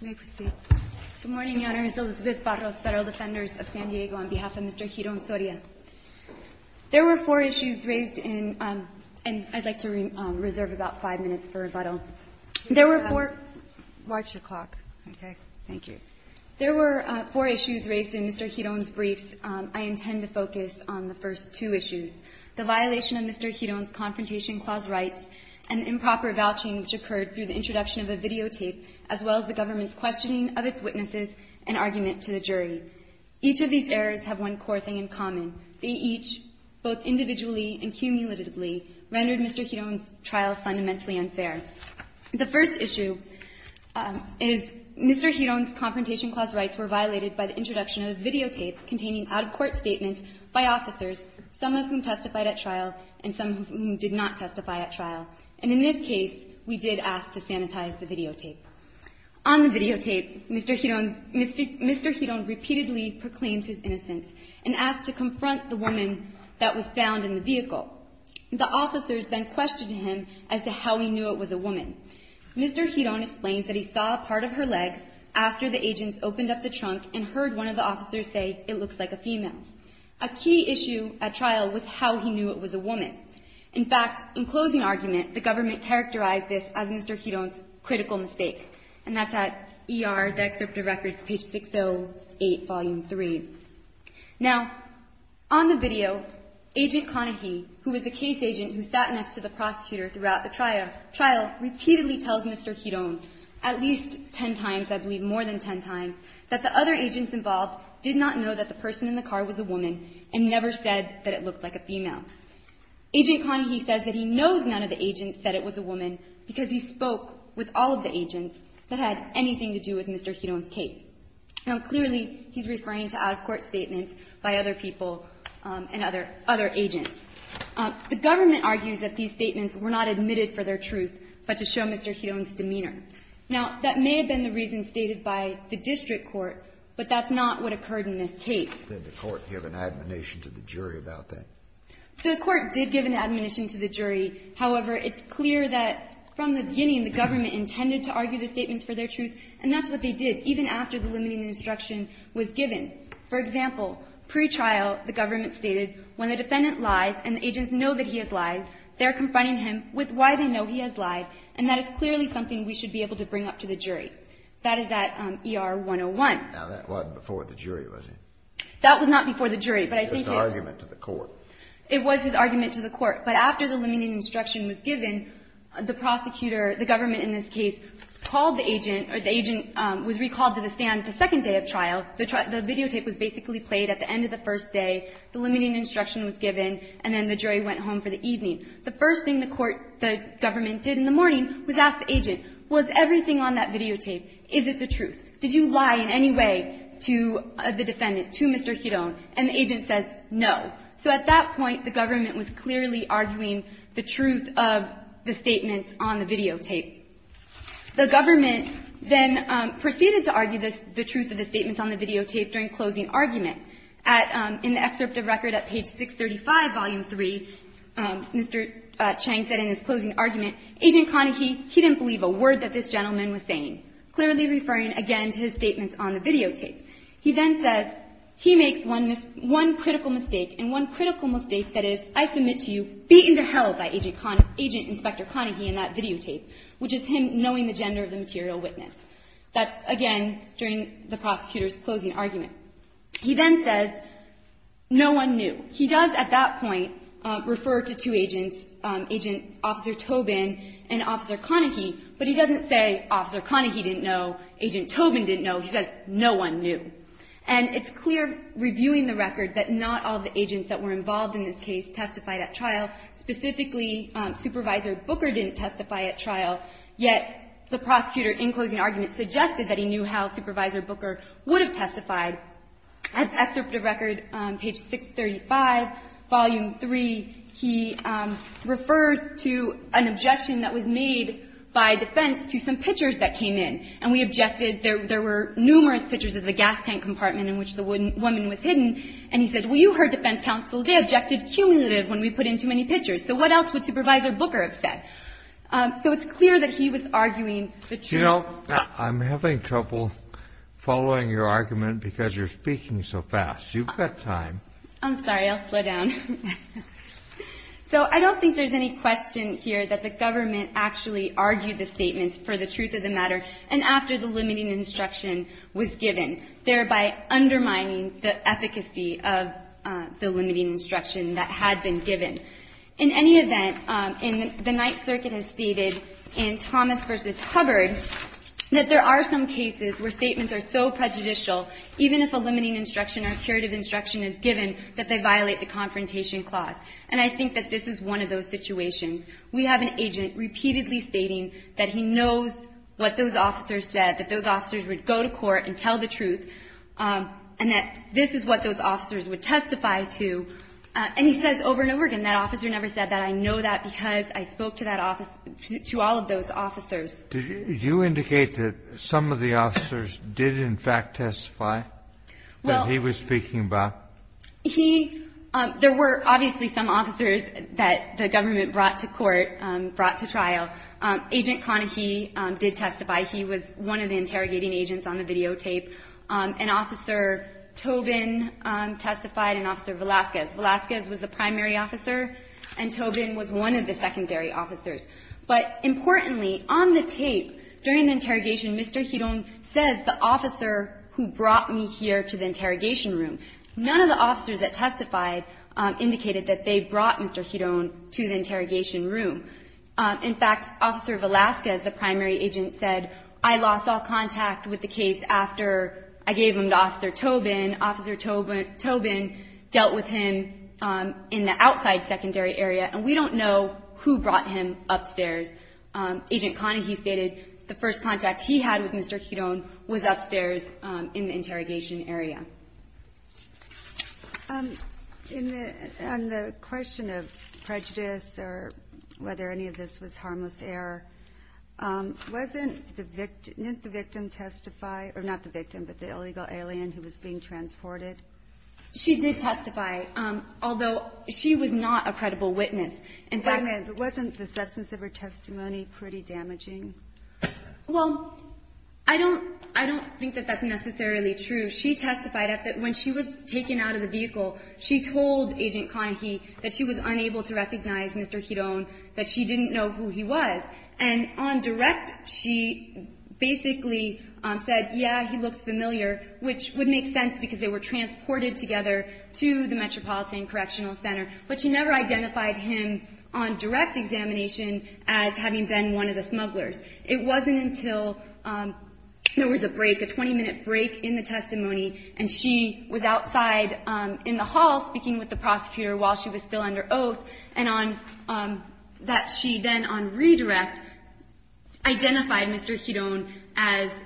Good morning, Your Honors. Elizabeth Barros, Federal Defenders of San Diego, on behalf of Mr. Giron-Soria. There were four issues raised in – and I'd like to reserve about five minutes for rebuttal. There were four – Watch your clock, okay? Thank you. There were four issues raised in Mr. Giron's briefs. I intend to focus on the first two issues, the violation of Mr. Giron's Confrontation Clause rights, and improper vouching which occurred through the introduction of a videotape, as well as the government's questioning of its witnesses and argument to the jury. Each of these errors have one core thing in common. They each, both individually and cumulatively, rendered Mr. Giron's trial fundamentally unfair. The first issue is Mr. Giron's Confrontation Clause rights were violated by the introduction of a videotape containing out-of-court statements by officers, some of whom testified at trial and some of whom did not testify at trial. And in this case, we did ask to sanitize the videotape. On the videotape, Mr. Giron – Mr. Giron repeatedly proclaimed his innocence and asked to confront the woman that was found in the vehicle. The officers then questioned him as to how he knew it was a woman. Mr. Giron explains that he saw a part of her leg after the agents opened up the trunk and heard one of the officers say, it looks like a female. A key issue at trial was how he knew it was a woman. In fact, in closing argument, the government characterized this as Mr. Giron's critical mistake. And that's at ER, the excerpt of records, page 608, volume 3. Now, on the video, Agent Conahee, who was the case agent who sat next to the prosecutor throughout the trial, repeatedly tells Mr. Giron at least ten times, I believe more than ten times, that the other agents involved did not know that the person in the car was a woman and never said that it looked like a female. Agent Conahee says that he knows none of the agents said it was a woman because he spoke with all of the agents that had anything to do with Mr. Giron's case. Now, clearly, he's referring to out-of-court statements by other people and other agents. The government argues that these statements were not admitted for their truth, but to show Mr. Giron's demeanor. Now, that may have been the reason stated by the district court, but that's not what occurred in this case. Kennedy, did the court give an admonition to the jury about that? The court did give an admonition to the jury. However, it's clear that from the beginning, the government intended to argue the statements for their truth, and that's what they did, even after the limiting instruction was given. For example, pre-trial, the government stated, when the defendant lies and the agents know that he has lied, they're confronting him with why they know he has lied, and that is clearly something we should be able to bring up to the jury. That is at ER 101. Now, that wasn't before the jury, was it? That was not before the jury, but I think it was. It was just an argument to the court. It was an argument to the court, but after the limiting instruction was given, the prosecutor, the government in this case, called the agent, or the agent was recalled to the stand the second day of trial. The videotape was basically played at the end of the first day, the limiting instruction was given, and then the jury went home for the evening. The first thing the court, the government did in the morning was ask the agent, was everything on that videotape, is it the truth? Did you lie in any way to the defendant, to Mr. Giron? And the agent says, no. So at that point, the government was clearly arguing the truth of the statements on the videotape. The government then proceeded to argue the truth of the statements on the videotape during closing argument. In the excerpt of record at page 635, volume 3, Mr. Chang said in his closing argument, Agent Conahy, he didn't believe a word that this gentleman was saying, clearly referring again to his statements on the videotape. He then says, he makes one critical mistake, and one critical mistake that is, I submit to you, beaten to hell by Agent Inspector Conahy in that videotape, which is that he, just him knowing the gender of the material witness. That's, again, during the prosecutor's closing argument. He then says, no one knew. He does at that point refer to two agents, Agent Officer Tobin and Officer Conahy, but he doesn't say, Officer Conahy didn't know, Agent Tobin didn't know. He says, no one knew. And it's clear, reviewing the record, that not all the agents that were involved in this case testified at trial. Specifically, Supervisor Booker didn't testify at trial, yet the prosecutor in closing argument suggested that he knew how Supervisor Booker would have testified. As excerpt of record, page 635, volume 3, he refers to an objection that was made by defense to some pictures that came in, and we objected. There were numerous pictures of the gas tank compartment in which the woman was hidden, and he said, well, you heard defense counsel. They objected cumulatively when we put in too many pictures. So what else would Supervisor Booker have said? So it's clear that he was arguing the truth. You know, I'm having trouble following your argument because you're speaking so fast. You've got time. I'm sorry. I'll slow down. So I don't think there's any question here that the government actually argued the statements for the truth of the matter, and after the limiting instruction was given, thereby undermining the efficacy of the limiting instruction that had been given. In any event, the Ninth Circuit has stated in Thomas v. Hubbard that there are some cases where statements are so prejudicial, even if a limiting instruction or curative instruction is given, that they violate the Confrontation Clause. And I think that this is one of those situations. We have an agent repeatedly stating that he knows what those officers said, that those officers testified to, and that this is what those officers would testify to. And he says over and over again, that officer never said that. I know that because I spoke to that office, to all of those officers. Did you indicate that some of the officers did, in fact, testify that he was speaking about? He – there were obviously some officers that the government brought to court, brought to trial. Agent Conahee did testify. He was one of the interrogating agents on the videotape. And Officer Tobin testified, and Officer Velazquez. Velazquez was the primary officer, and Tobin was one of the secondary officers. But importantly, on the tape, during the interrogation, Mr. Giron says, the officer who brought me here to the interrogation room. None of the officers that testified indicated that they brought Mr. Giron to the interrogation room. In fact, Officer Velazquez, the primary agent, said, I lost all contact with the case after I gave them to Officer Tobin. Officer Tobin dealt with him in the outside secondary area, and we don't know who brought him upstairs. Agent Conahee stated the first contact he had with Mr. Giron was upstairs in the interrogation area. In the – on the question of prejudice or whether any of this was harmless error, wasn't the victim – didn't the victim testify – or not the victim, but the illegal alien who was being transported? She did testify, although she was not a credible witness. And by the way, wasn't the substance of her testimony pretty damaging? Well, I don't – I don't think that that's necessarily true. She testified that when she was taken out of the vehicle, she told Agent Conahee that she was unable to recognize Mr. Giron, that she didn't know who he was. And on direct, she basically said, yeah, he looks familiar, which would make sense because they were transported together to the Metropolitan Correctional Center. But she never identified him on direct examination as having been one of the smugglers. It wasn't until there was a break, a 20-minute break in the testimony, and she was outside in the hall speaking with the prosecutor while she was still under oath, and on – that she then, on redirect, identified Mr. Giron as –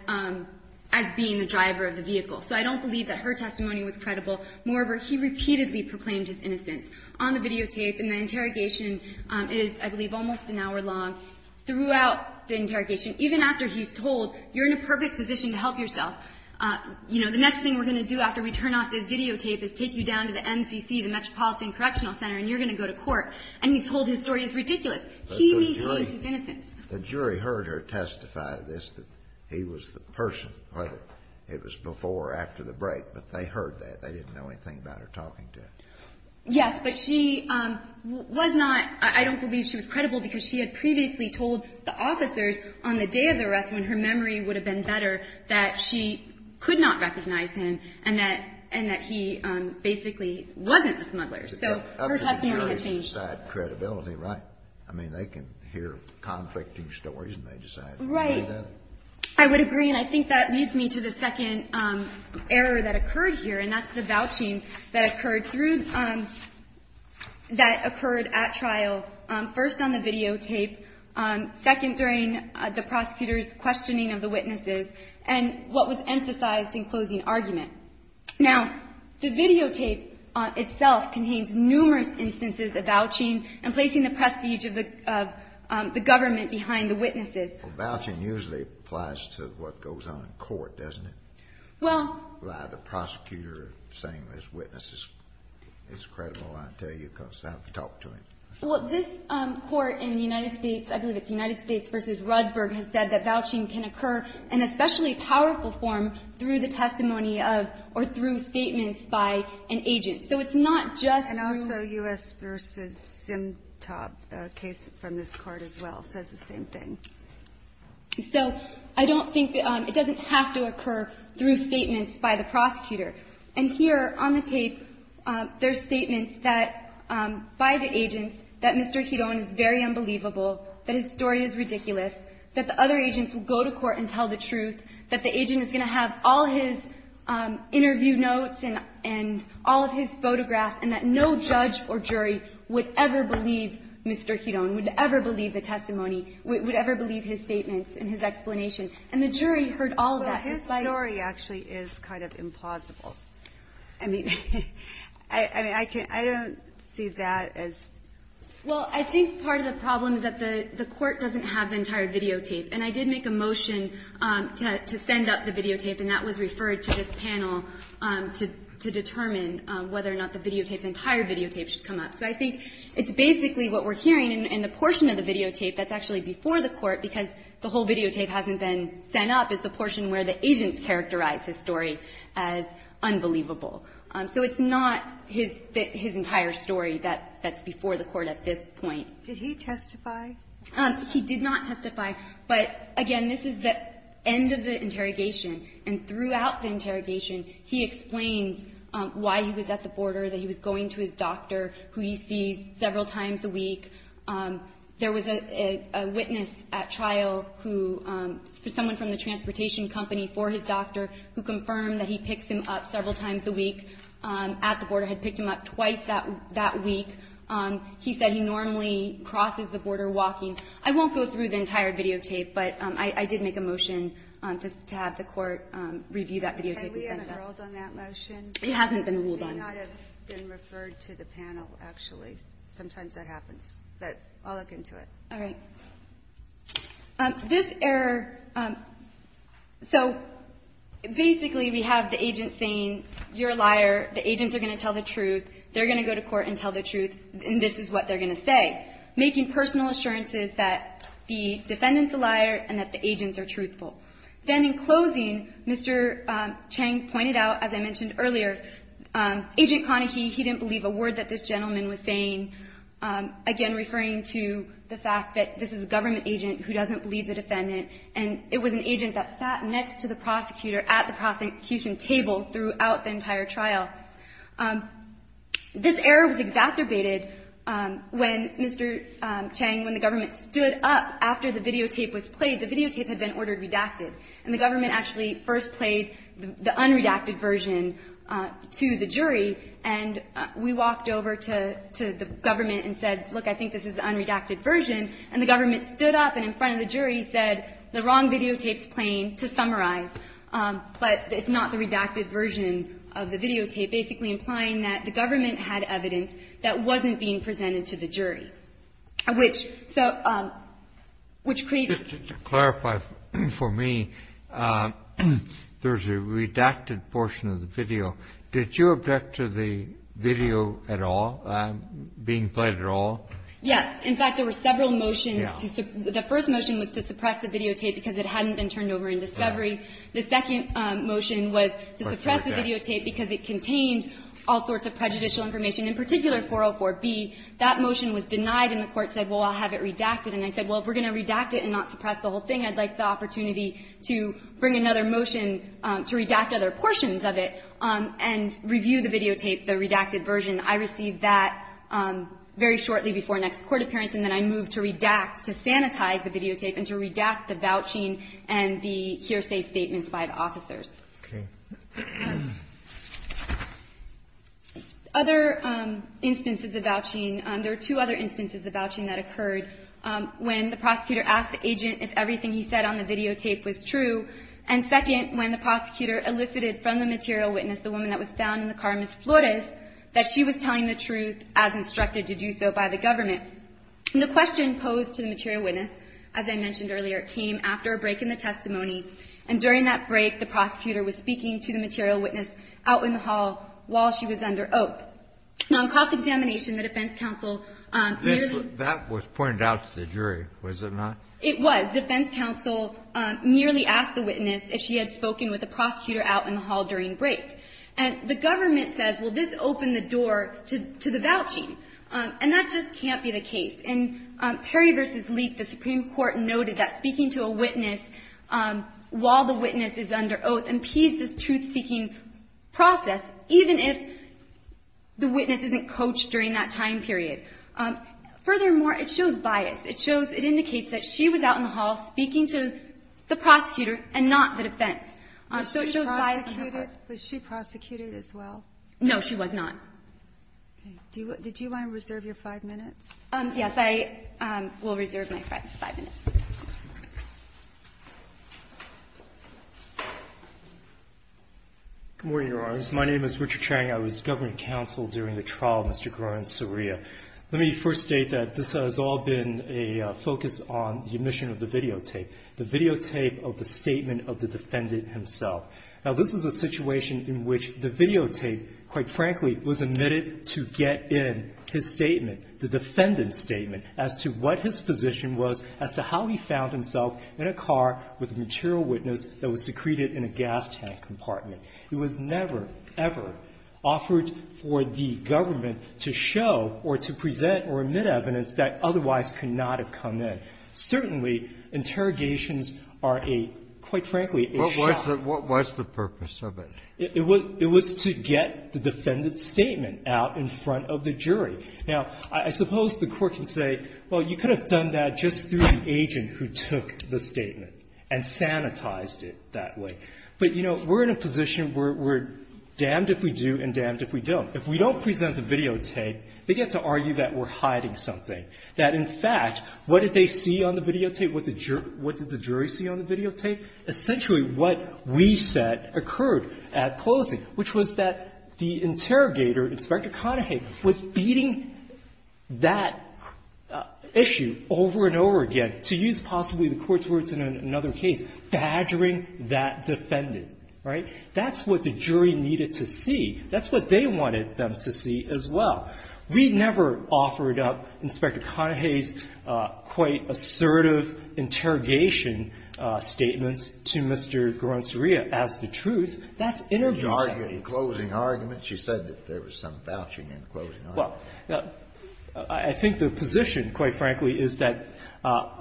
as being the driver of the vehicle. So I don't believe that her testimony was credible. Moreover, he repeatedly proclaimed his innocence on the videotape. And the interrogation is, I believe, almost an hour long. Throughout the interrogation, even after he's told, you're in a perfect position to help yourself, you know, the next thing we're going to do after we turn off this videotape is take you down to the MCC, the Metropolitan Correctional Center, and you're going to go to court. And he's told his story is ridiculous. He means his innocence. But the jury – the jury heard her testify this, that he was the person, whether it was before or after the break. But they heard that. They didn't know anything about her talking to him. Yes. But she was not – I don't believe she was credible because she had previously told the officers on the day of the arrest, when her memory would have been better, that she could not recognize him and that – and that he basically wasn't the smuggler. So her testimony had changed. But they decide credibility, right? I mean, they can hear conflicting stories and they decide to believe that. Right. I would agree. And I think that leads me to the second error that occurred here, and that's the vouching that occurred through – that occurred at trial, first on the videotape, second during the prosecutor's questioning of the witnesses, and what was emphasized in closing argument. Now, the videotape itself contains numerous instances of vouching and placing the prestige of the government behind the witnesses. Well, vouching usually applies to what goes on in court, doesn't it? Well – By the prosecutor saying those witnesses is credible, I tell you, because I've talked to him. Well, this Court in the United States – I believe it's United States v. Ruddburg has said that vouching can occur in especially powerful form through the testimony of or through statements by an agent. So it's not just through – And also U.S. v. Simtop, a case from this Court as well, says the same thing. So I don't think – it doesn't have to occur through statements by the prosecutor. And here on the tape, there's statements that – by the agents that Mr. Giron is very that his story is ridiculous, that the other agents will go to court and tell the truth, that the agent is going to have all his interview notes and all of his photographs, and that no judge or jury would ever believe Mr. Giron, would ever believe the testimony, would ever believe his statements and his explanation. And the jury heard all of that despite – Well, his story actually is kind of implausible. I mean, I can't – I don't see that as – Well, I think part of the problem is that the Court doesn't have the entire videotape. And I did make a motion to send up the videotape, and that was referred to this panel to determine whether or not the videotape, the entire videotape, should come up. So I think it's basically what we're hearing, and the portion of the videotape that's actually before the Court, because the whole videotape hasn't been sent up, is the portion where the agents characterize his story as unbelievable. So it's not his entire story that's before the Court at this point. Did he testify? He did not testify. But, again, this is the end of the interrogation. And throughout the interrogation, he explains why he was at the border, that he was going to his doctor, who he sees several times a week. There was a witness at trial who – someone from the transportation company for his doctor who confirmed that he picks him up several times a week at the border, had picked him up twice that week. He said he normally crosses the border walking. I won't go through the entire videotape, but I did make a motion to have the Court review that videotape and send it up. We haven't ruled on that motion. It hasn't been ruled on. It may not have been referred to the panel, actually. Sometimes that happens. But I'll look into it. All right. This error – so, basically, we have the agent saying, you're a liar, the agents are going to tell the truth, they're going to go to court and tell the truth, and this is what they're going to say, making personal assurances that the defendant's a liar and that the agents are truthful. Then, in closing, Mr. Chang pointed out, as I mentioned earlier, Agent Conahee, he didn't believe a word that this gentleman was saying, again, referring to the fact that this is a government agent who doesn't believe the defendant, and it was an agent that sat next to the prosecutor at the prosecution table throughout the entire trial. This error was exacerbated when Mr. Chang, when the government stood up after the videotape was played. The videotape had been ordered redacted, and the government actually first played the unredacted version to the jury, and we walked over to the government and said, look, I think this is the unredacted version, and the government stood up and in front of the jury said the wrong videotape's playing to summarize, but it's not the redacted version of the videotape, basically implying that the government had evidence that wasn't being presented to the jury, which – so – which creates – Just to clarify for me, there's a redacted portion of the video. Did you object to the video at all being played at all? Yes. In fact, there were several motions to – the first motion was to suppress the videotape because it hadn't been turned over in discovery. The second motion was to suppress the videotape because it contained all sorts of prejudicial information, in particular 404B. That motion was denied, and the court said, well, I'll have it redacted, and I said, well, if we're going to redact it and not suppress the whole thing, I'd like the opportunity to bring another motion to redact other portions of it and review the videotape, the redacted version. I received that very shortly before next court appearance, and then I moved to redact – to sanitize the videotape and to redact the vouching and the hearsay statements by the officers. Okay. Other instances of vouching – there are two other instances of vouching that occurred when the prosecutor asked the agent if everything he said on the videotape was true, and second, when the prosecutor elicited from the material witness, the woman that was found in the car, Ms. Flores, that she was telling the truth as instructed to do so by the government. And the question posed to the material witness, as I mentioned earlier, came after a break in the testimony, and during that break, the prosecutor was speaking to the material witness out in the hall while she was under oath. Now, in cross-examination, the defense counsel clearly – It went out to the jury, was it not? It was. Defense counsel merely asked the witness if she had spoken with the prosecutor out in the hall during break. And the government says, well, this opened the door to the vouching. And that just can't be the case. In Perry v. Leek, the Supreme Court noted that speaking to a witness while the witness is under oath impedes this truth-seeking process, even if the witness isn't coached during that time period. Furthermore, it shows bias. It shows – it indicates that she was out in the hall speaking to the prosecutor and not the defense. So it shows bias. Was she prosecuted as well? No, she was not. Okay. Did you want to reserve your five minutes? Yes. I will reserve my five minutes. Good morning, Your Honors. My name is Richard Chang. I was government counsel during the trial of Mr. Goron and Saria. Let me first state that this has all been a focus on the omission of the videotape, the videotape of the statement of the defendant himself. Now, this is a situation in which the videotape, quite frankly, was omitted to get in his statement, the defendant's statement, as to what his position was as to how he found himself in a car with a material witness that was secreted in a gas tank compartment. It was never, ever offered for the government to show or to present or admit evidence that otherwise could not have come in. Certainly, interrogations are a, quite frankly, a shock. What was the purpose of it? It was to get the defendant's statement out in front of the jury. Now, I suppose the Court can say, well, you could have done that just through the agent who took the statement and sanitized it that way. But, you know, we're in a position where we're damned if we do and damned if we don't. If we don't present the videotape, they get to argue that we're hiding something, that, in fact, what did they see on the videotape? What did the jury see on the videotape? Essentially, what we said occurred at closing, which was that the interrogator, Inspector Conahay, was beating that issue over and over again, to use possibly the Court's words in another case, badgering that defendant. All right? That's what the jury needed to see. That's what they wanted them to see as well. We never offered up Inspector Conahay's quite assertive interrogation statements to Mr. Guaronsuria as the truth. That's interview findings. Kennedy. HADDAD The closing argument, she said that there was some vouching in the closing argument. Well, I think the position, quite frankly, is that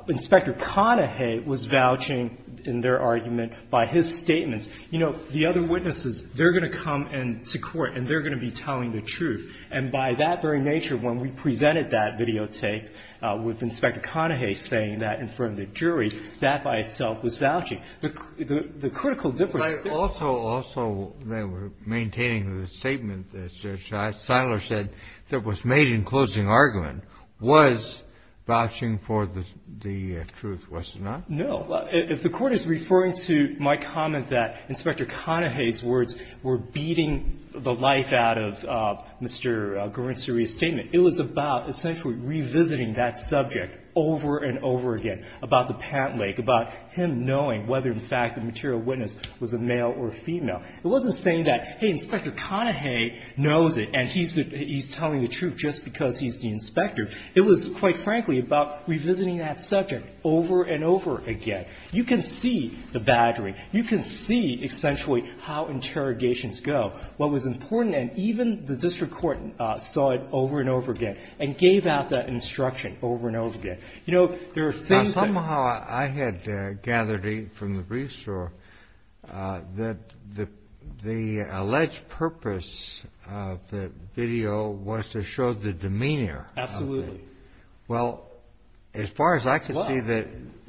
Inspector Conahay was vouching in their argument by his statements. You know, the other witnesses, they're going to come into court and they're going to be telling the truth. And by that very nature, when we presented that videotape with Inspector Conahay saying that in front of the jury, that by itself was vouching. The critical difference there was also they were maintaining the statement that Siler said that was made in closing argument was vouching for the truth. Was it not? No. If the Court is referring to my comment that Inspector Conahay's words were beating the life out of Mr. Guaronsuria's statement, it was about essentially revisiting that subject over and over again about the pant leg, about him knowing whether in fact the material witness was a male or a female. It wasn't saying that, hey, Inspector Conahay knows it and he's telling the truth just because he's the inspector. It was, quite frankly, about revisiting that subject over and over again. You can see the battery. You can see, essentially, how interrogations go. What was important, and even the district court saw it over and over again and gave out that instruction over and over again. You know, there are things that ---- The alleged purpose of the video was to show the demeanor. Absolutely. Well, as far as I can see, the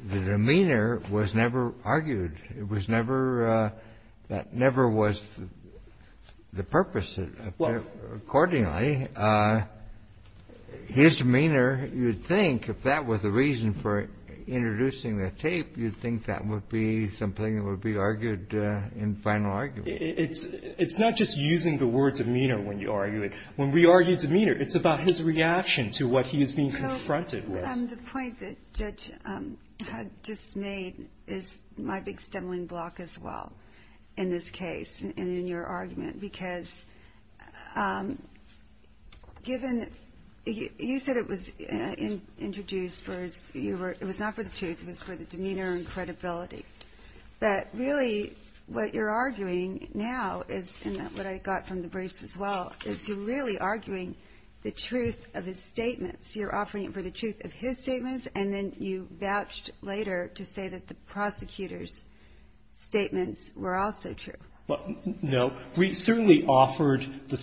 demeanor was never argued. It was never, that never was the purpose accordingly. His demeanor, you'd think if that was the reason for introducing the tape, you'd think that would be something that would be argued in final argument. It's not just using the word demeanor when you argue it. When we argue demeanor, it's about his reaction to what he is being confronted with. The point that Judge had just made is my big stumbling block as well in this case and in your argument because given, you said it was introduced, it was not for the truth. It was for the demeanor and credibility. But really, what you're arguing now is, and what I got from the briefs as well, is you're really arguing the truth of his statements. You're offering it for the truth of his statements, and then you vouched later to say that the prosecutor's statements were also true. No. We certainly offered the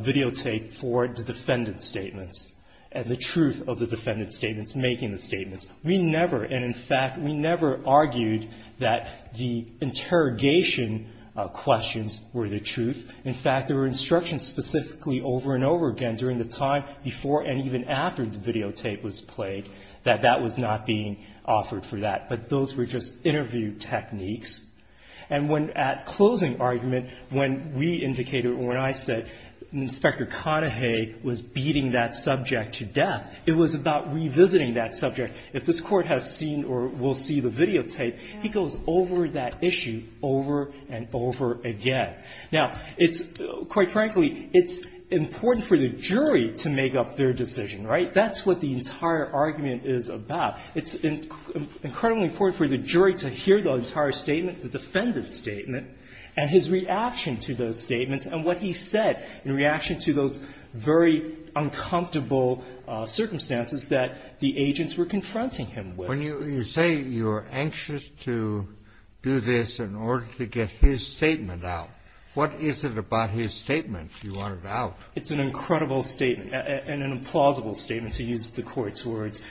videotape for the defendant's statements and the truth of the defendant's statements, making the statements. We never, and in fact, we never argued that the interrogation questions were the truth. In fact, there were instructions specifically over and over again during the time before and even after the videotape was played that that was not being offered for that. But those were just interview techniques. And when at closing argument, when we indicated, when I said Inspector Conahay was beating that subject to death, it was about revisiting that subject. If this Court has seen or will see the videotape, he goes over that issue over and over again. Now, it's, quite frankly, it's important for the jury to make up their decision, right? That's what the entire argument is about. It's incredibly important for the jury to hear the entire statement, the defendant's statement, and his reaction to those statements, and what he said in reaction to those very uncomfortable circumstances that the agents were confronting him with. When you say you're anxious to do this in order to get his statement out, what is it about his statement you want it out? It's an incredible statement and an implausible statement, to use the Court's words.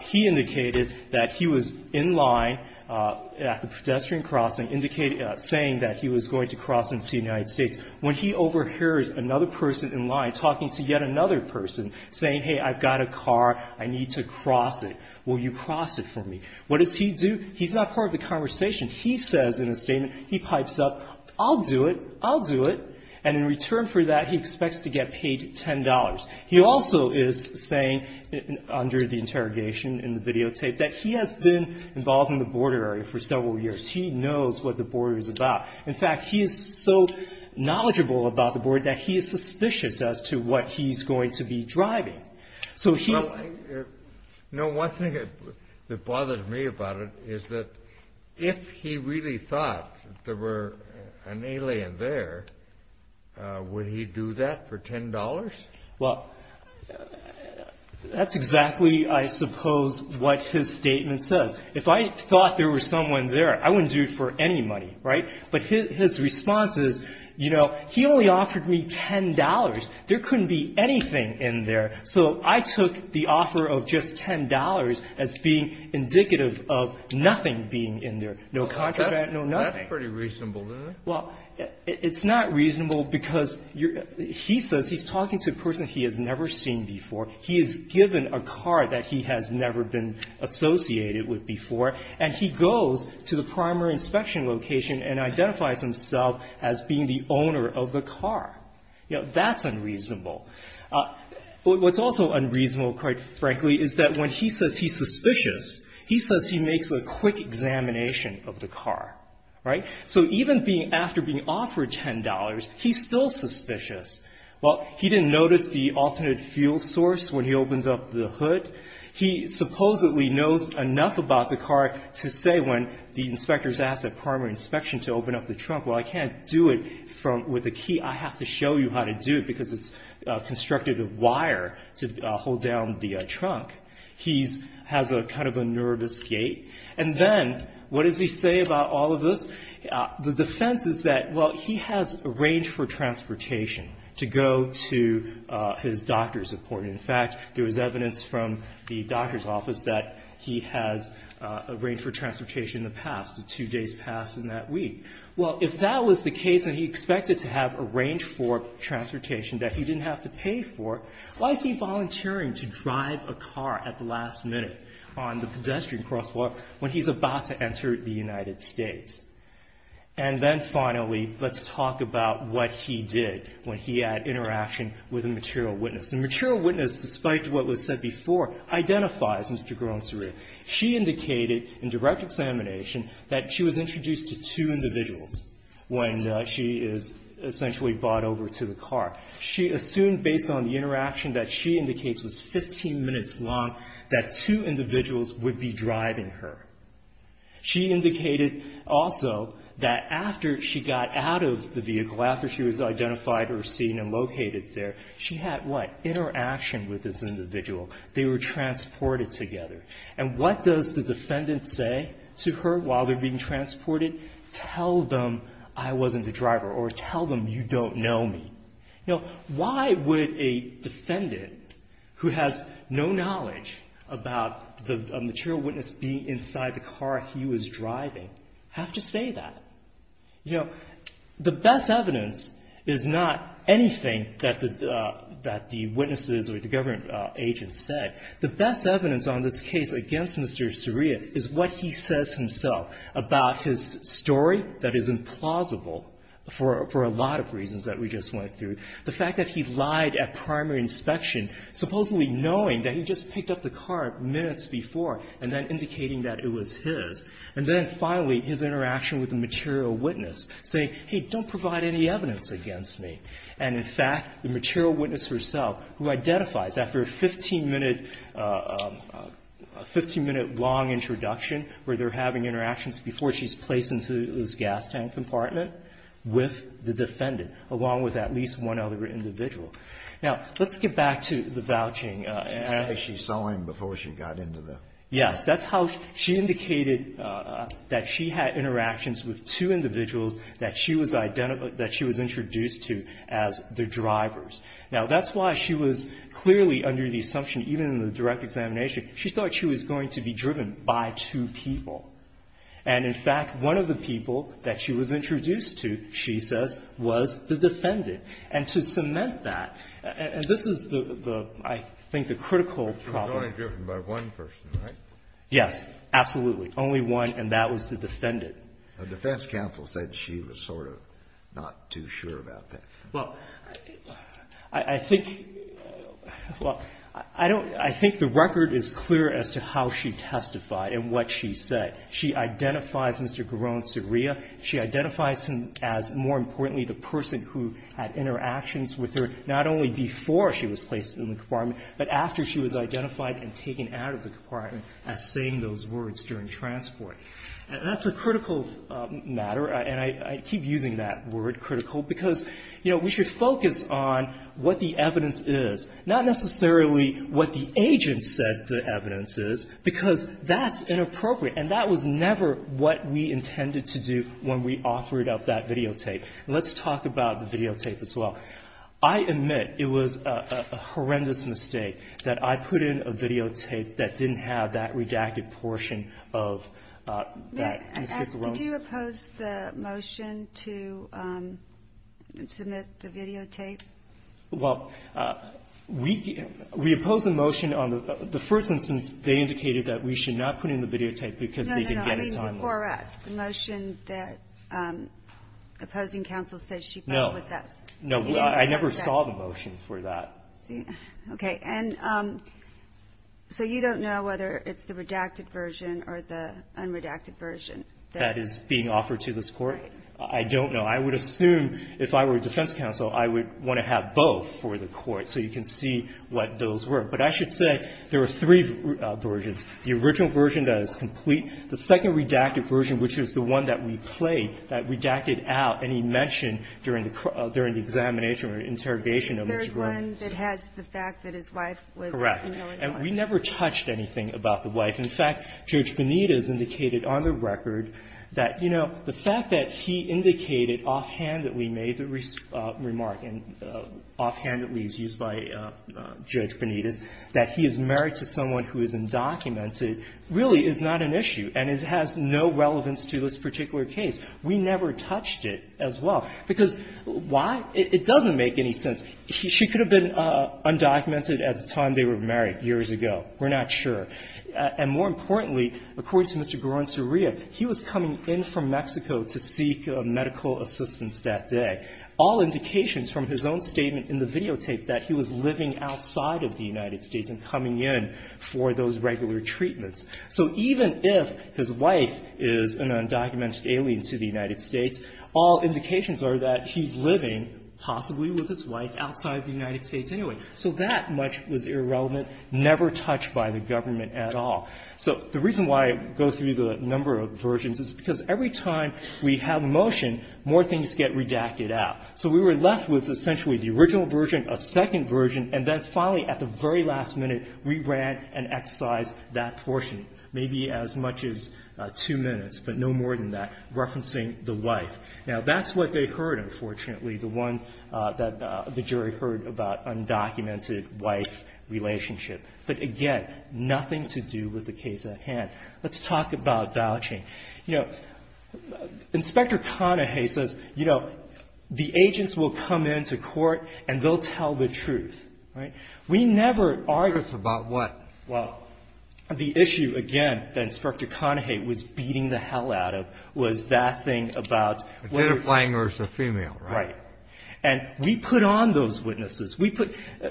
He indicated that he was in line at the pedestrian crossing, indicating, saying that he was going to cross into the United States. When he overhears another person in line talking to yet another person saying, hey, I've got a car, I need to cross it, will you cross it for me? What does he do? He's not part of the conversation. He says in a statement, he pipes up, I'll do it, I'll do it, and in return for that, he expects to get paid $10. He also is saying, under the interrogation in the videotape, that he has been involved in the border area for several years. He knows what the border is about. In fact, he is so knowledgeable about the border that he is suspicious as to what he's going to be driving. So he... Well, you know, one thing that bothers me about it is that if he really thought there were an alien there, would he do that for $10? Well, that's exactly, I suppose, what his statement says. If I thought there was someone there, I wouldn't do it for any money, right? But his response is, you know, he only offered me $10. There couldn't be anything in there, so I took the offer of just $10 as being indicative of nothing being in there, no contraband, no nothing. That's pretty reasonable, isn't it? Well, it's not reasonable because he says he's talking to a person he has never seen before. He is given a car that he has never been associated with before, and he goes to the primary inspection location and identifies himself as being the owner of the car. You know, that's unreasonable. What's also unreasonable, quite frankly, is that when he says he's suspicious, he says he makes a quick examination of the car, right? So even after being offered $10, he's still suspicious. Well, he didn't notice the alternate fuel source when he opens up the hood. He supposedly knows enough about the car to say when the inspectors ask at primary inspection to open up the trunk, well, I can't do it with a key. I have to show you how to do it because it's constructed of wire to hold down the trunk. He has kind of a nervous gait. And then, what does he say about all of this? The defense is that, well, he has arranged for transportation to go to his doctor's appointment. In fact, there was evidence from the doctor's office that he has arranged for transportation in the past, the two days past in that week. Well, if that was the case and he expected to have arranged for transportation that he didn't have to pay for, why is he volunteering to drive a car at the last minute on the pedestrian crosswalk when he's about to enter the United States? And then, finally, let's talk about what he did when he had interaction with a material witness. A material witness, despite what was said before, identifies Mr. Garon-Sarir. She indicated in direct examination that she was introduced to two individuals when she is essentially brought over to the car. She assumed based on the interaction that she indicates was 15 minutes long that two individuals would be driving her. She indicated also that after she got out of the vehicle, after she was identified or seen and located there, she had what? Interaction with this individual. They were transported together. And what does the defendant say to her while they're being transported? Tell them I wasn't the driver or tell them you don't know me. You know, why would a defendant who has no knowledge about the material witness being inside the car he was driving have to say that? You know, the best evidence is not anything that the witnesses or the government agents said. The best evidence on this case against Mr. Sarir is what he says himself about his reasons that we just went through. The fact that he lied at primary inspection, supposedly knowing that he just picked up the car minutes before and then indicating that it was his. And then finally, his interaction with the material witness, saying, hey, don't provide any evidence against me. And in fact, the material witness herself, who identifies after a 15-minute long introduction where they're having interactions before she's placed into this gas tank compartment with the defendant, along with at least one other individual. Now, let's get back to the vouching. And I think she saw him before she got into the room. Yes. That's how she indicated that she had interactions with two individuals that she was introduced to as the drivers. Now, that's why she was clearly under the assumption, even in the direct examination, she thought she was going to be driven by two people. And in fact, one of the people that she was introduced to, she says, was the defendant. And to cement that, and this is the, I think, the critical problem. She was only driven by one person, right? Yes. Absolutely. Only one, and that was the defendant. The defense counsel said she was sort of not too sure about that. Well, I think, well, I don't, I think the record is clear as to how she testified and what she said. She identifies Mr. Garone, Saria. She identifies him as, more importantly, the person who had interactions with her, not only before she was placed in the compartment, but after she was identified and taken out of the compartment as saying those words during transport. And that's a critical matter. And I keep using that word, critical, because, you know, we should focus on what the evidence is, not necessarily what the agent said the evidence is, because that's inappropriate. And that was never what we intended to do when we authored up that videotape. Let's talk about the videotape as well. I admit it was a horrendous mistake that I put in a videotape that didn't have that redacted portion of that Mr. Garone. Did you oppose the motion to submit the videotape? Well, we opposed the motion. The first instance, they indicated that we should not put it in the videotape because they didn't get any time. No, no, no. I mean, before us. The motion that opposing counsel said she filed with us. No. No. I never saw the motion for that. Okay. And so you don't know whether it's the redacted version or the unredacted version that is being offered to this Court? Right. I don't know. I would assume if I were a defense counsel, I would want to have both for the Court so you can see what those were. But I should say there are three versions. The original version that is complete. The second redacted version, which is the one that we played, that redacted out and he mentioned during the examination or interrogation of Mr. Garone. There is one that has the fact that his wife was a family lawyer. Correct. And we never touched anything about the wife. In fact, Judge Bonita has indicated on the record that, you know, the fact that he indicated offhand that we made the remark and offhand that we used by Judge Bonita is that he is married to someone who is undocumented really is not an issue and has no relevance to this particular case. We never touched it as well. Because why? It doesn't make any sense. She could have been undocumented at the time they were married years ago. We're not sure. And more importantly, according to Mr. Garone-Soria, he was coming in from Mexico to seek medical assistance that day. All indications from his own statement in the videotape that he was living outside of the United States and coming in for those regular treatments. So even if his wife is an undocumented alien to the United States, all indications are that he's living possibly with his wife outside of the United States anyway. So that much was irrelevant, never touched by the government at all. So the reason why I go through the number of versions is because every time we have a motion, more things get redacted out. So we were left with essentially the original version, a second version, and then finally, at the very last minute, we ran and excised that portion, maybe as much as two minutes, but no more than that, referencing the wife. Now, that's what they heard, unfortunately, the one that the jury heard about undocumented wife relationship. But again, nothing to do with the case at hand. Let's talk about vouching. You know, Inspector Conahay says, you know, the agents will come into court and they'll tell the truth, right? We never argued about what? Well, the issue, again, that Inspector Conahay was beating the hell out of was that thing about. Identifying her as a female, right? Right. And we put on those witnesses.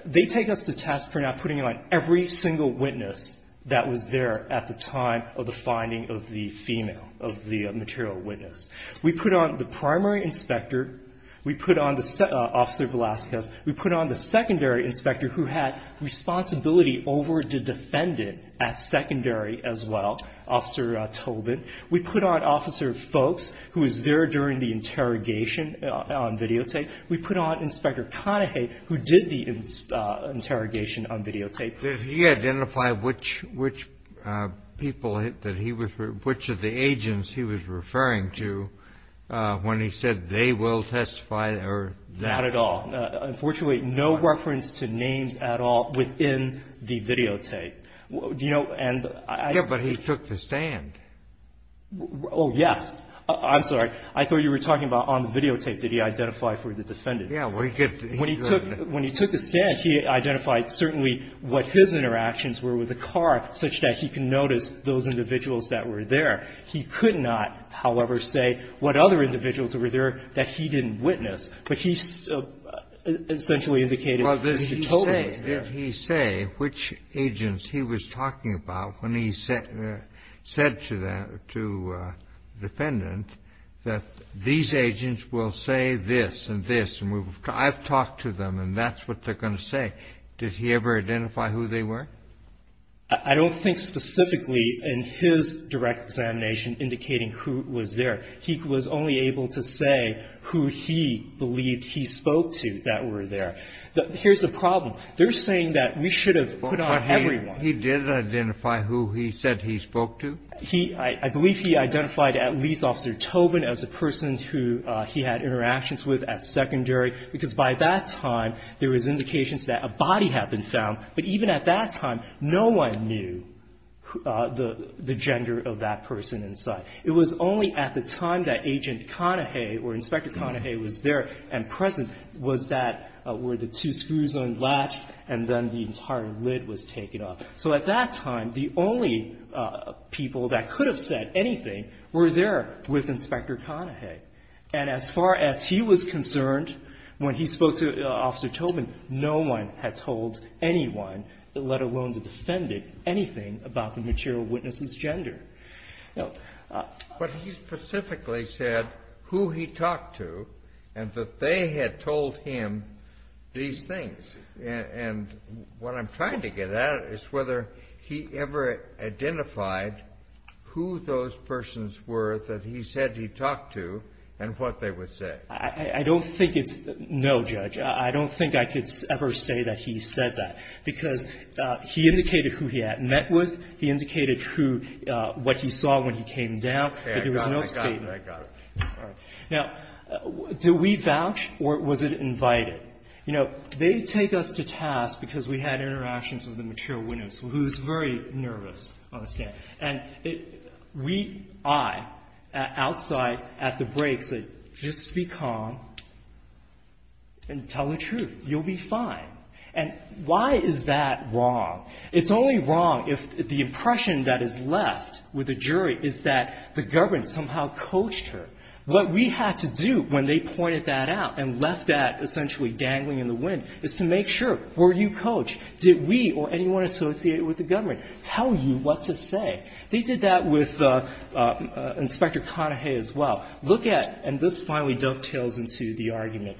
They take us to task for not putting on every single witness that was there at the time of the finding of the female, of the material witness. We put on the primary inspector. We put on Officer Velazquez. We put on the secondary inspector who had responsibility over the defendant at secondary as well, Officer Tobin. We put on Officer Folks, who was there during the interrogation on videotape. We put on Inspector Conahay, who did the interrogation on videotape. Did he identify which people that he was, which of the agents he was referring to when he said they will testify or that? Not at all. Unfortunately, no reference to names at all within the videotape. Do you know? Yeah, but he took the stand. Oh, yes. I'm sorry. I thought you were talking about on the videotape. Did he identify for the defendant? Yeah. When he took the stand, he identified certainly what his interactions were with the car such that he could notice those individuals that were there. He could not, however, say what other individuals were there that he didn't witness, but he essentially indicated Mr. Tobin was there. Did he say which agents he was talking about when he said to the defendant that these agents will say this and this, and I've talked to them, and that's what they're going to say? Did he ever identify who they were? I don't think specifically in his direct examination indicating who was there. He was only able to say who he believed he spoke to that were there. Here's the problem. They're saying that we should have put on everyone. But he did identify who he said he spoke to? I believe he identified at least Officer Tobin as a person who he had interactions with as secondary because by that time, there was indications that a body had been found, but even at that time, no one knew the gender of that person inside. It was only at the time that Agent Conahay or Inspector Conahay was there and present was that where the two screws unlatched and then the entire lid was taken off. So at that time, the only people that could have said anything were there with Inspector Conahay. And as far as he was concerned when he spoke to Officer Tobin, no one had told anyone, let alone the defendant, anything about the material witness's gender. No. But he specifically said who he talked to and that they had told him these things. And what I'm trying to get at is whether he ever identified who those persons were that he said he talked to and what they would say. I don't think it's no, Judge. I don't think I could ever say that he said that because he indicated who he had met with, he indicated what he saw when he came down, but there was no statement. Okay, I got it. I got it. All right. Now, do we vouch or was it invited? You know, they take us to task because we had interactions with the material witness who's very nervous on the stand. And we, I, outside at the break said, just be calm and tell the truth. You'll be fine. And why is that wrong? It's only wrong if the impression that is left with the jury is that the government somehow coached her. What we had to do when they pointed that out and left that essentially dangling in the wind is to make sure, were you coached? Did we or anyone associated with the government tell you what to say? They did that with Inspector Conahay as well. Look at, and this finally dovetails into the argument,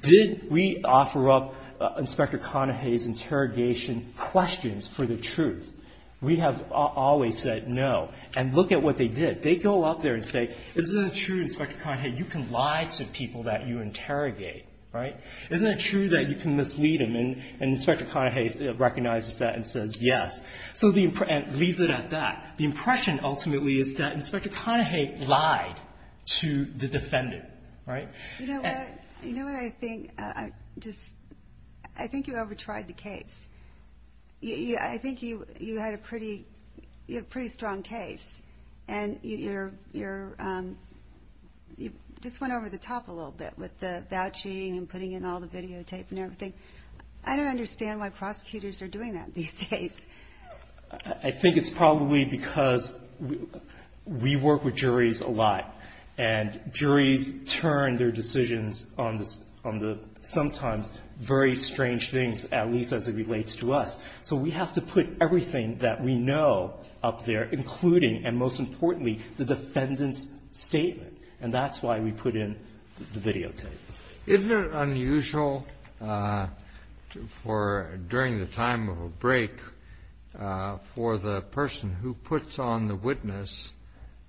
did we offer up Inspector Conahay's interrogation questions for the truth? We have always said no. And look at what they did. They go up there and say, isn't it true, Inspector Conahay, you can lie to people that you interrogate, right? Isn't it true that you can mislead them? And Inspector Conahay recognizes that and says yes. So the, and leaves it at that. The impression ultimately is that Inspector Conahay lied to the defendant, right? You know what? You know what I think? I just, I think you over-tried the case. I think you had a pretty, you have a pretty strong case. And you're, you just went over the top a little bit with the vouching and putting in all the videotape and everything. I don't understand why prosecutors are doing that these days. I think it's probably because we work with juries a lot. And juries turn their decisions on the sometimes very strange things, at least as it relates to us. So we have to put everything that we know up there, including and most importantly the defendant's statement. And that's why we put in the videotape. Isn't it unusual for, during the time of a break, for the person who puts on the witness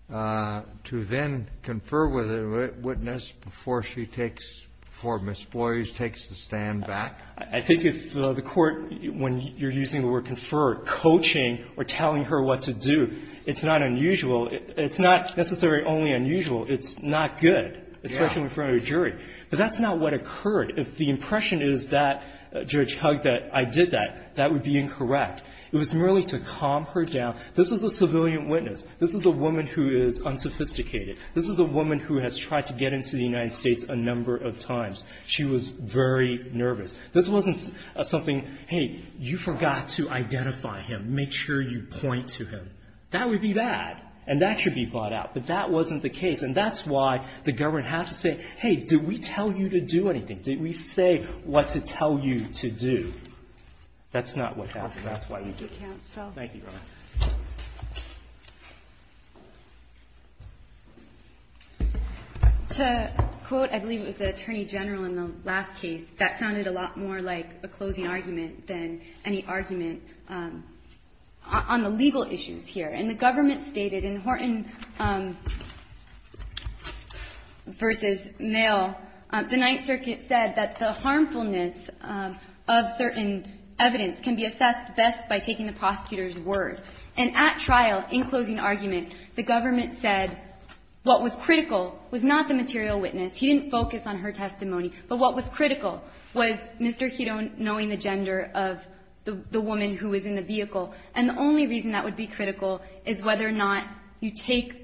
to then confer with a witness before she takes, before Ms. Boyers takes the stand back? I think if the court, when you're using the word confer, coaching or telling her what to do, it's not unusual. It's not necessarily only unusual. It's not good, especially in front of a jury. But that's not what occurred. If the impression is that Judge Hugg that I did that, that would be incorrect. It was merely to calm her down. This is a civilian witness. This is a woman who is unsophisticated. This is a woman who has tried to get into the United States a number of times. She was very nervous. This wasn't something, hey, you forgot to identify him. Make sure you point to him. That would be bad. And that should be bought out. But that wasn't the case. And that's why the government has to say, hey, did we tell you to do anything? Did we say what to tell you to do? That's not what happened. That's why we did it. Thank you, Your Honor. To quote, I believe it was the Attorney General in the last case, that sounded a lot more like a closing argument than any argument on the legal issues here. And the government stated in Horton v. Mail, the Ninth Circuit said that the harmfulness of certain evidence can be assessed best by taking the prosecutor's word. And at trial, in closing argument, the government said what was critical was not the material witness. He didn't focus on her testimony. But what was critical was Mr. Hedo knowing the gender of the woman who was in the vehicle. And the only reason that would be critical is whether or not you take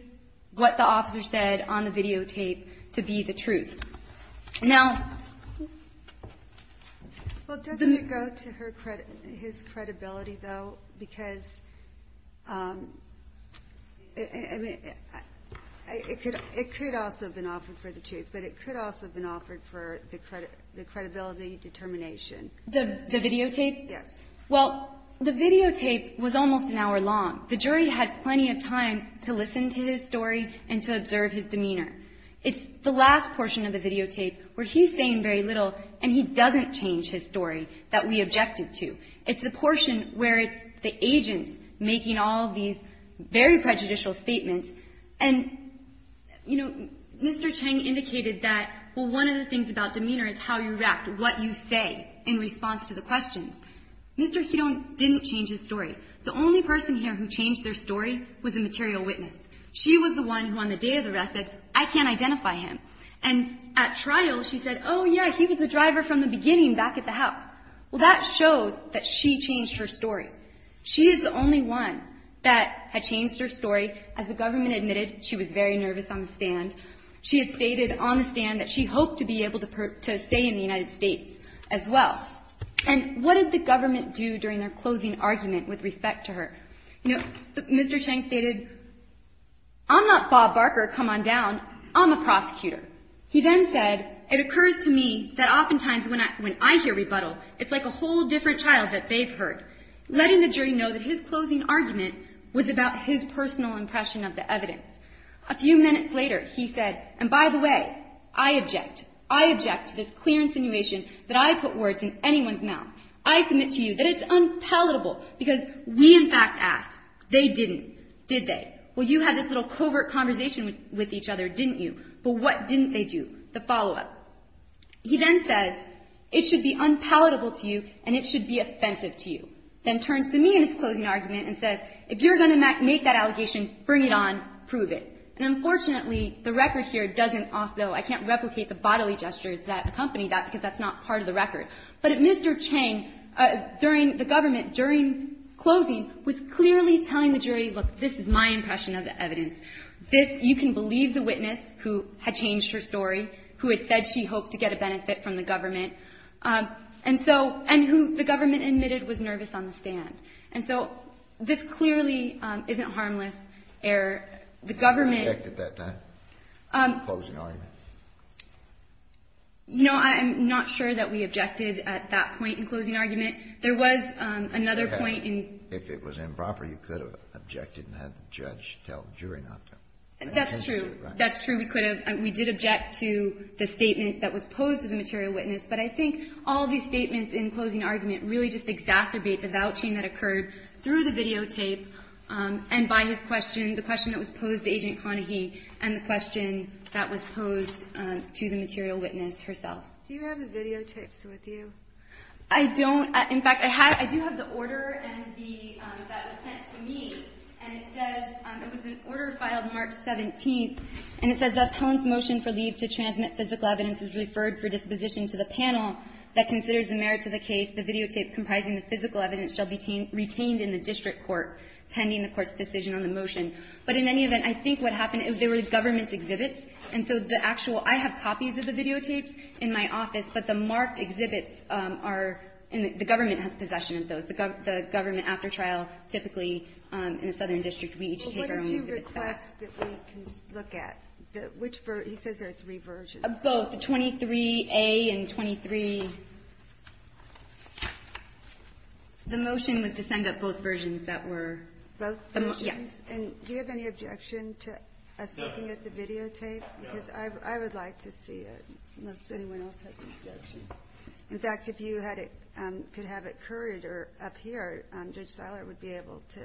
what the officer said on the videotape to be the truth. Well, doesn't it go to his credibility, though? Because it could also have been offered for the truth. But it could also have been offered for the credibility determination. The videotape? Yes. Well, the videotape was almost an hour long. The jury had plenty of time to listen to his story and to observe his demeanor. It's the last portion of the videotape where he's saying very little and he doesn't change his story that we objected to. It's the portion where it's the agents making all these very prejudicial statements. And, you know, Mr. Cheng indicated that, well, one of the things about demeanor is how you react, what you say in response to the questions. Mr. Hedo didn't change his story. The only person here who changed their story was the material witness. She was the one who on the day of the arrest said, I can't identify him. And at trial she said, oh, yeah, he was the driver from the beginning back at the house. Well, that shows that she changed her story. She is the only one that had changed her story. As the government admitted, she was very nervous on the stand. She had stated on the stand that she hoped to be able to say in the United States as well. And what did the government do during their closing argument with respect to her? You know, Mr. Cheng stated, I'm not Bob Barker. Come on down. I'm a prosecutor. He then said, it occurs to me that oftentimes when I hear rebuttal, it's like a whole different child that they've heard. Letting the jury know that his closing argument was about his personal impression of the evidence. A few minutes later he said, and by the way, I object. I object to this clear insinuation that I put words in anyone's mouth. I submit to you that it's unpalatable because we in fact asked. They didn't. Did they? Well, you had this little covert conversation with each other, didn't you? But what didn't they do? The follow-up. He then says, it should be unpalatable to you and it should be offensive to you. Then turns to me in his closing argument and says, if you're going to make that allegation, bring it on, prove it. And unfortunately, the record here doesn't also, I can't replicate the bodily gestures that accompany that because that's not part of the record. But Mr. Chang, during the government, during closing, was clearly telling the jury, look, this is my impression of the evidence. This, you can believe the witness who had changed her story, who had said she hoped to get a benefit from the government. And so, and who the government admitted was nervous on the stand. And so, this clearly isn't harmless error. The government. Who objected to that closing argument? You know, I'm not sure that we objected at that point in closing argument. There was another point in. If it was improper, you could have objected and had the judge tell the jury not to. That's true. That's true. We could have. We did object to the statement that was posed to the material witness. But I think all these statements in closing argument really just exacerbate the vouching that occurred through the videotape and by his question, the question that was posed to Agent Conahy, and the question that was posed to the material witness herself. Do you have the videotapes with you? I don't. In fact, I do have the order and the, that was sent to me. And it says, it was an order filed March 17th. And it says the appellant's motion for leave to transmit physical evidence is referred for disposition to the panel that considers the merits of the case. The videotape comprising the physical evidence shall be retained in the district court pending the court's decision on the motion. But in any event, I think what happened is there was government exhibits. And so the actual, I have copies of the videotapes in my office. But the marked exhibits are, and the government has possession of those. The government after trial, typically in a southern district, we each take our own exhibits back. But what did you request that we look at? Which, he says there are three versions. Both, the 23A and 23. The motion was to send up both versions that were. Both versions? Yes. And do you have any objection to us looking at the videotape? No. Because I would like to see it. Unless anyone else has an objection. In fact, if you could have it curried or up here, Judge Seiler would be able to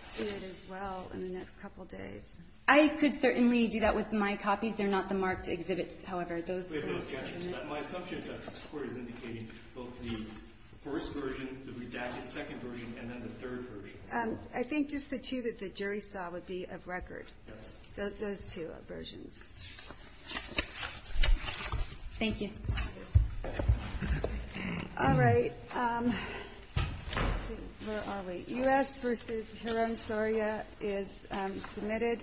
see it as well in the next couple days. I could certainly do that with my copies. They're not the marked exhibits. However, those. We have no objections. My assumption is that this Court is indicating both the first version, the redacted second version, and then the third version. I think just the two that the jury saw would be of record. Yes. Those two versions. Thank you. All right. Let's see. Where are we? U.S. v. Hiram Soria is submitted.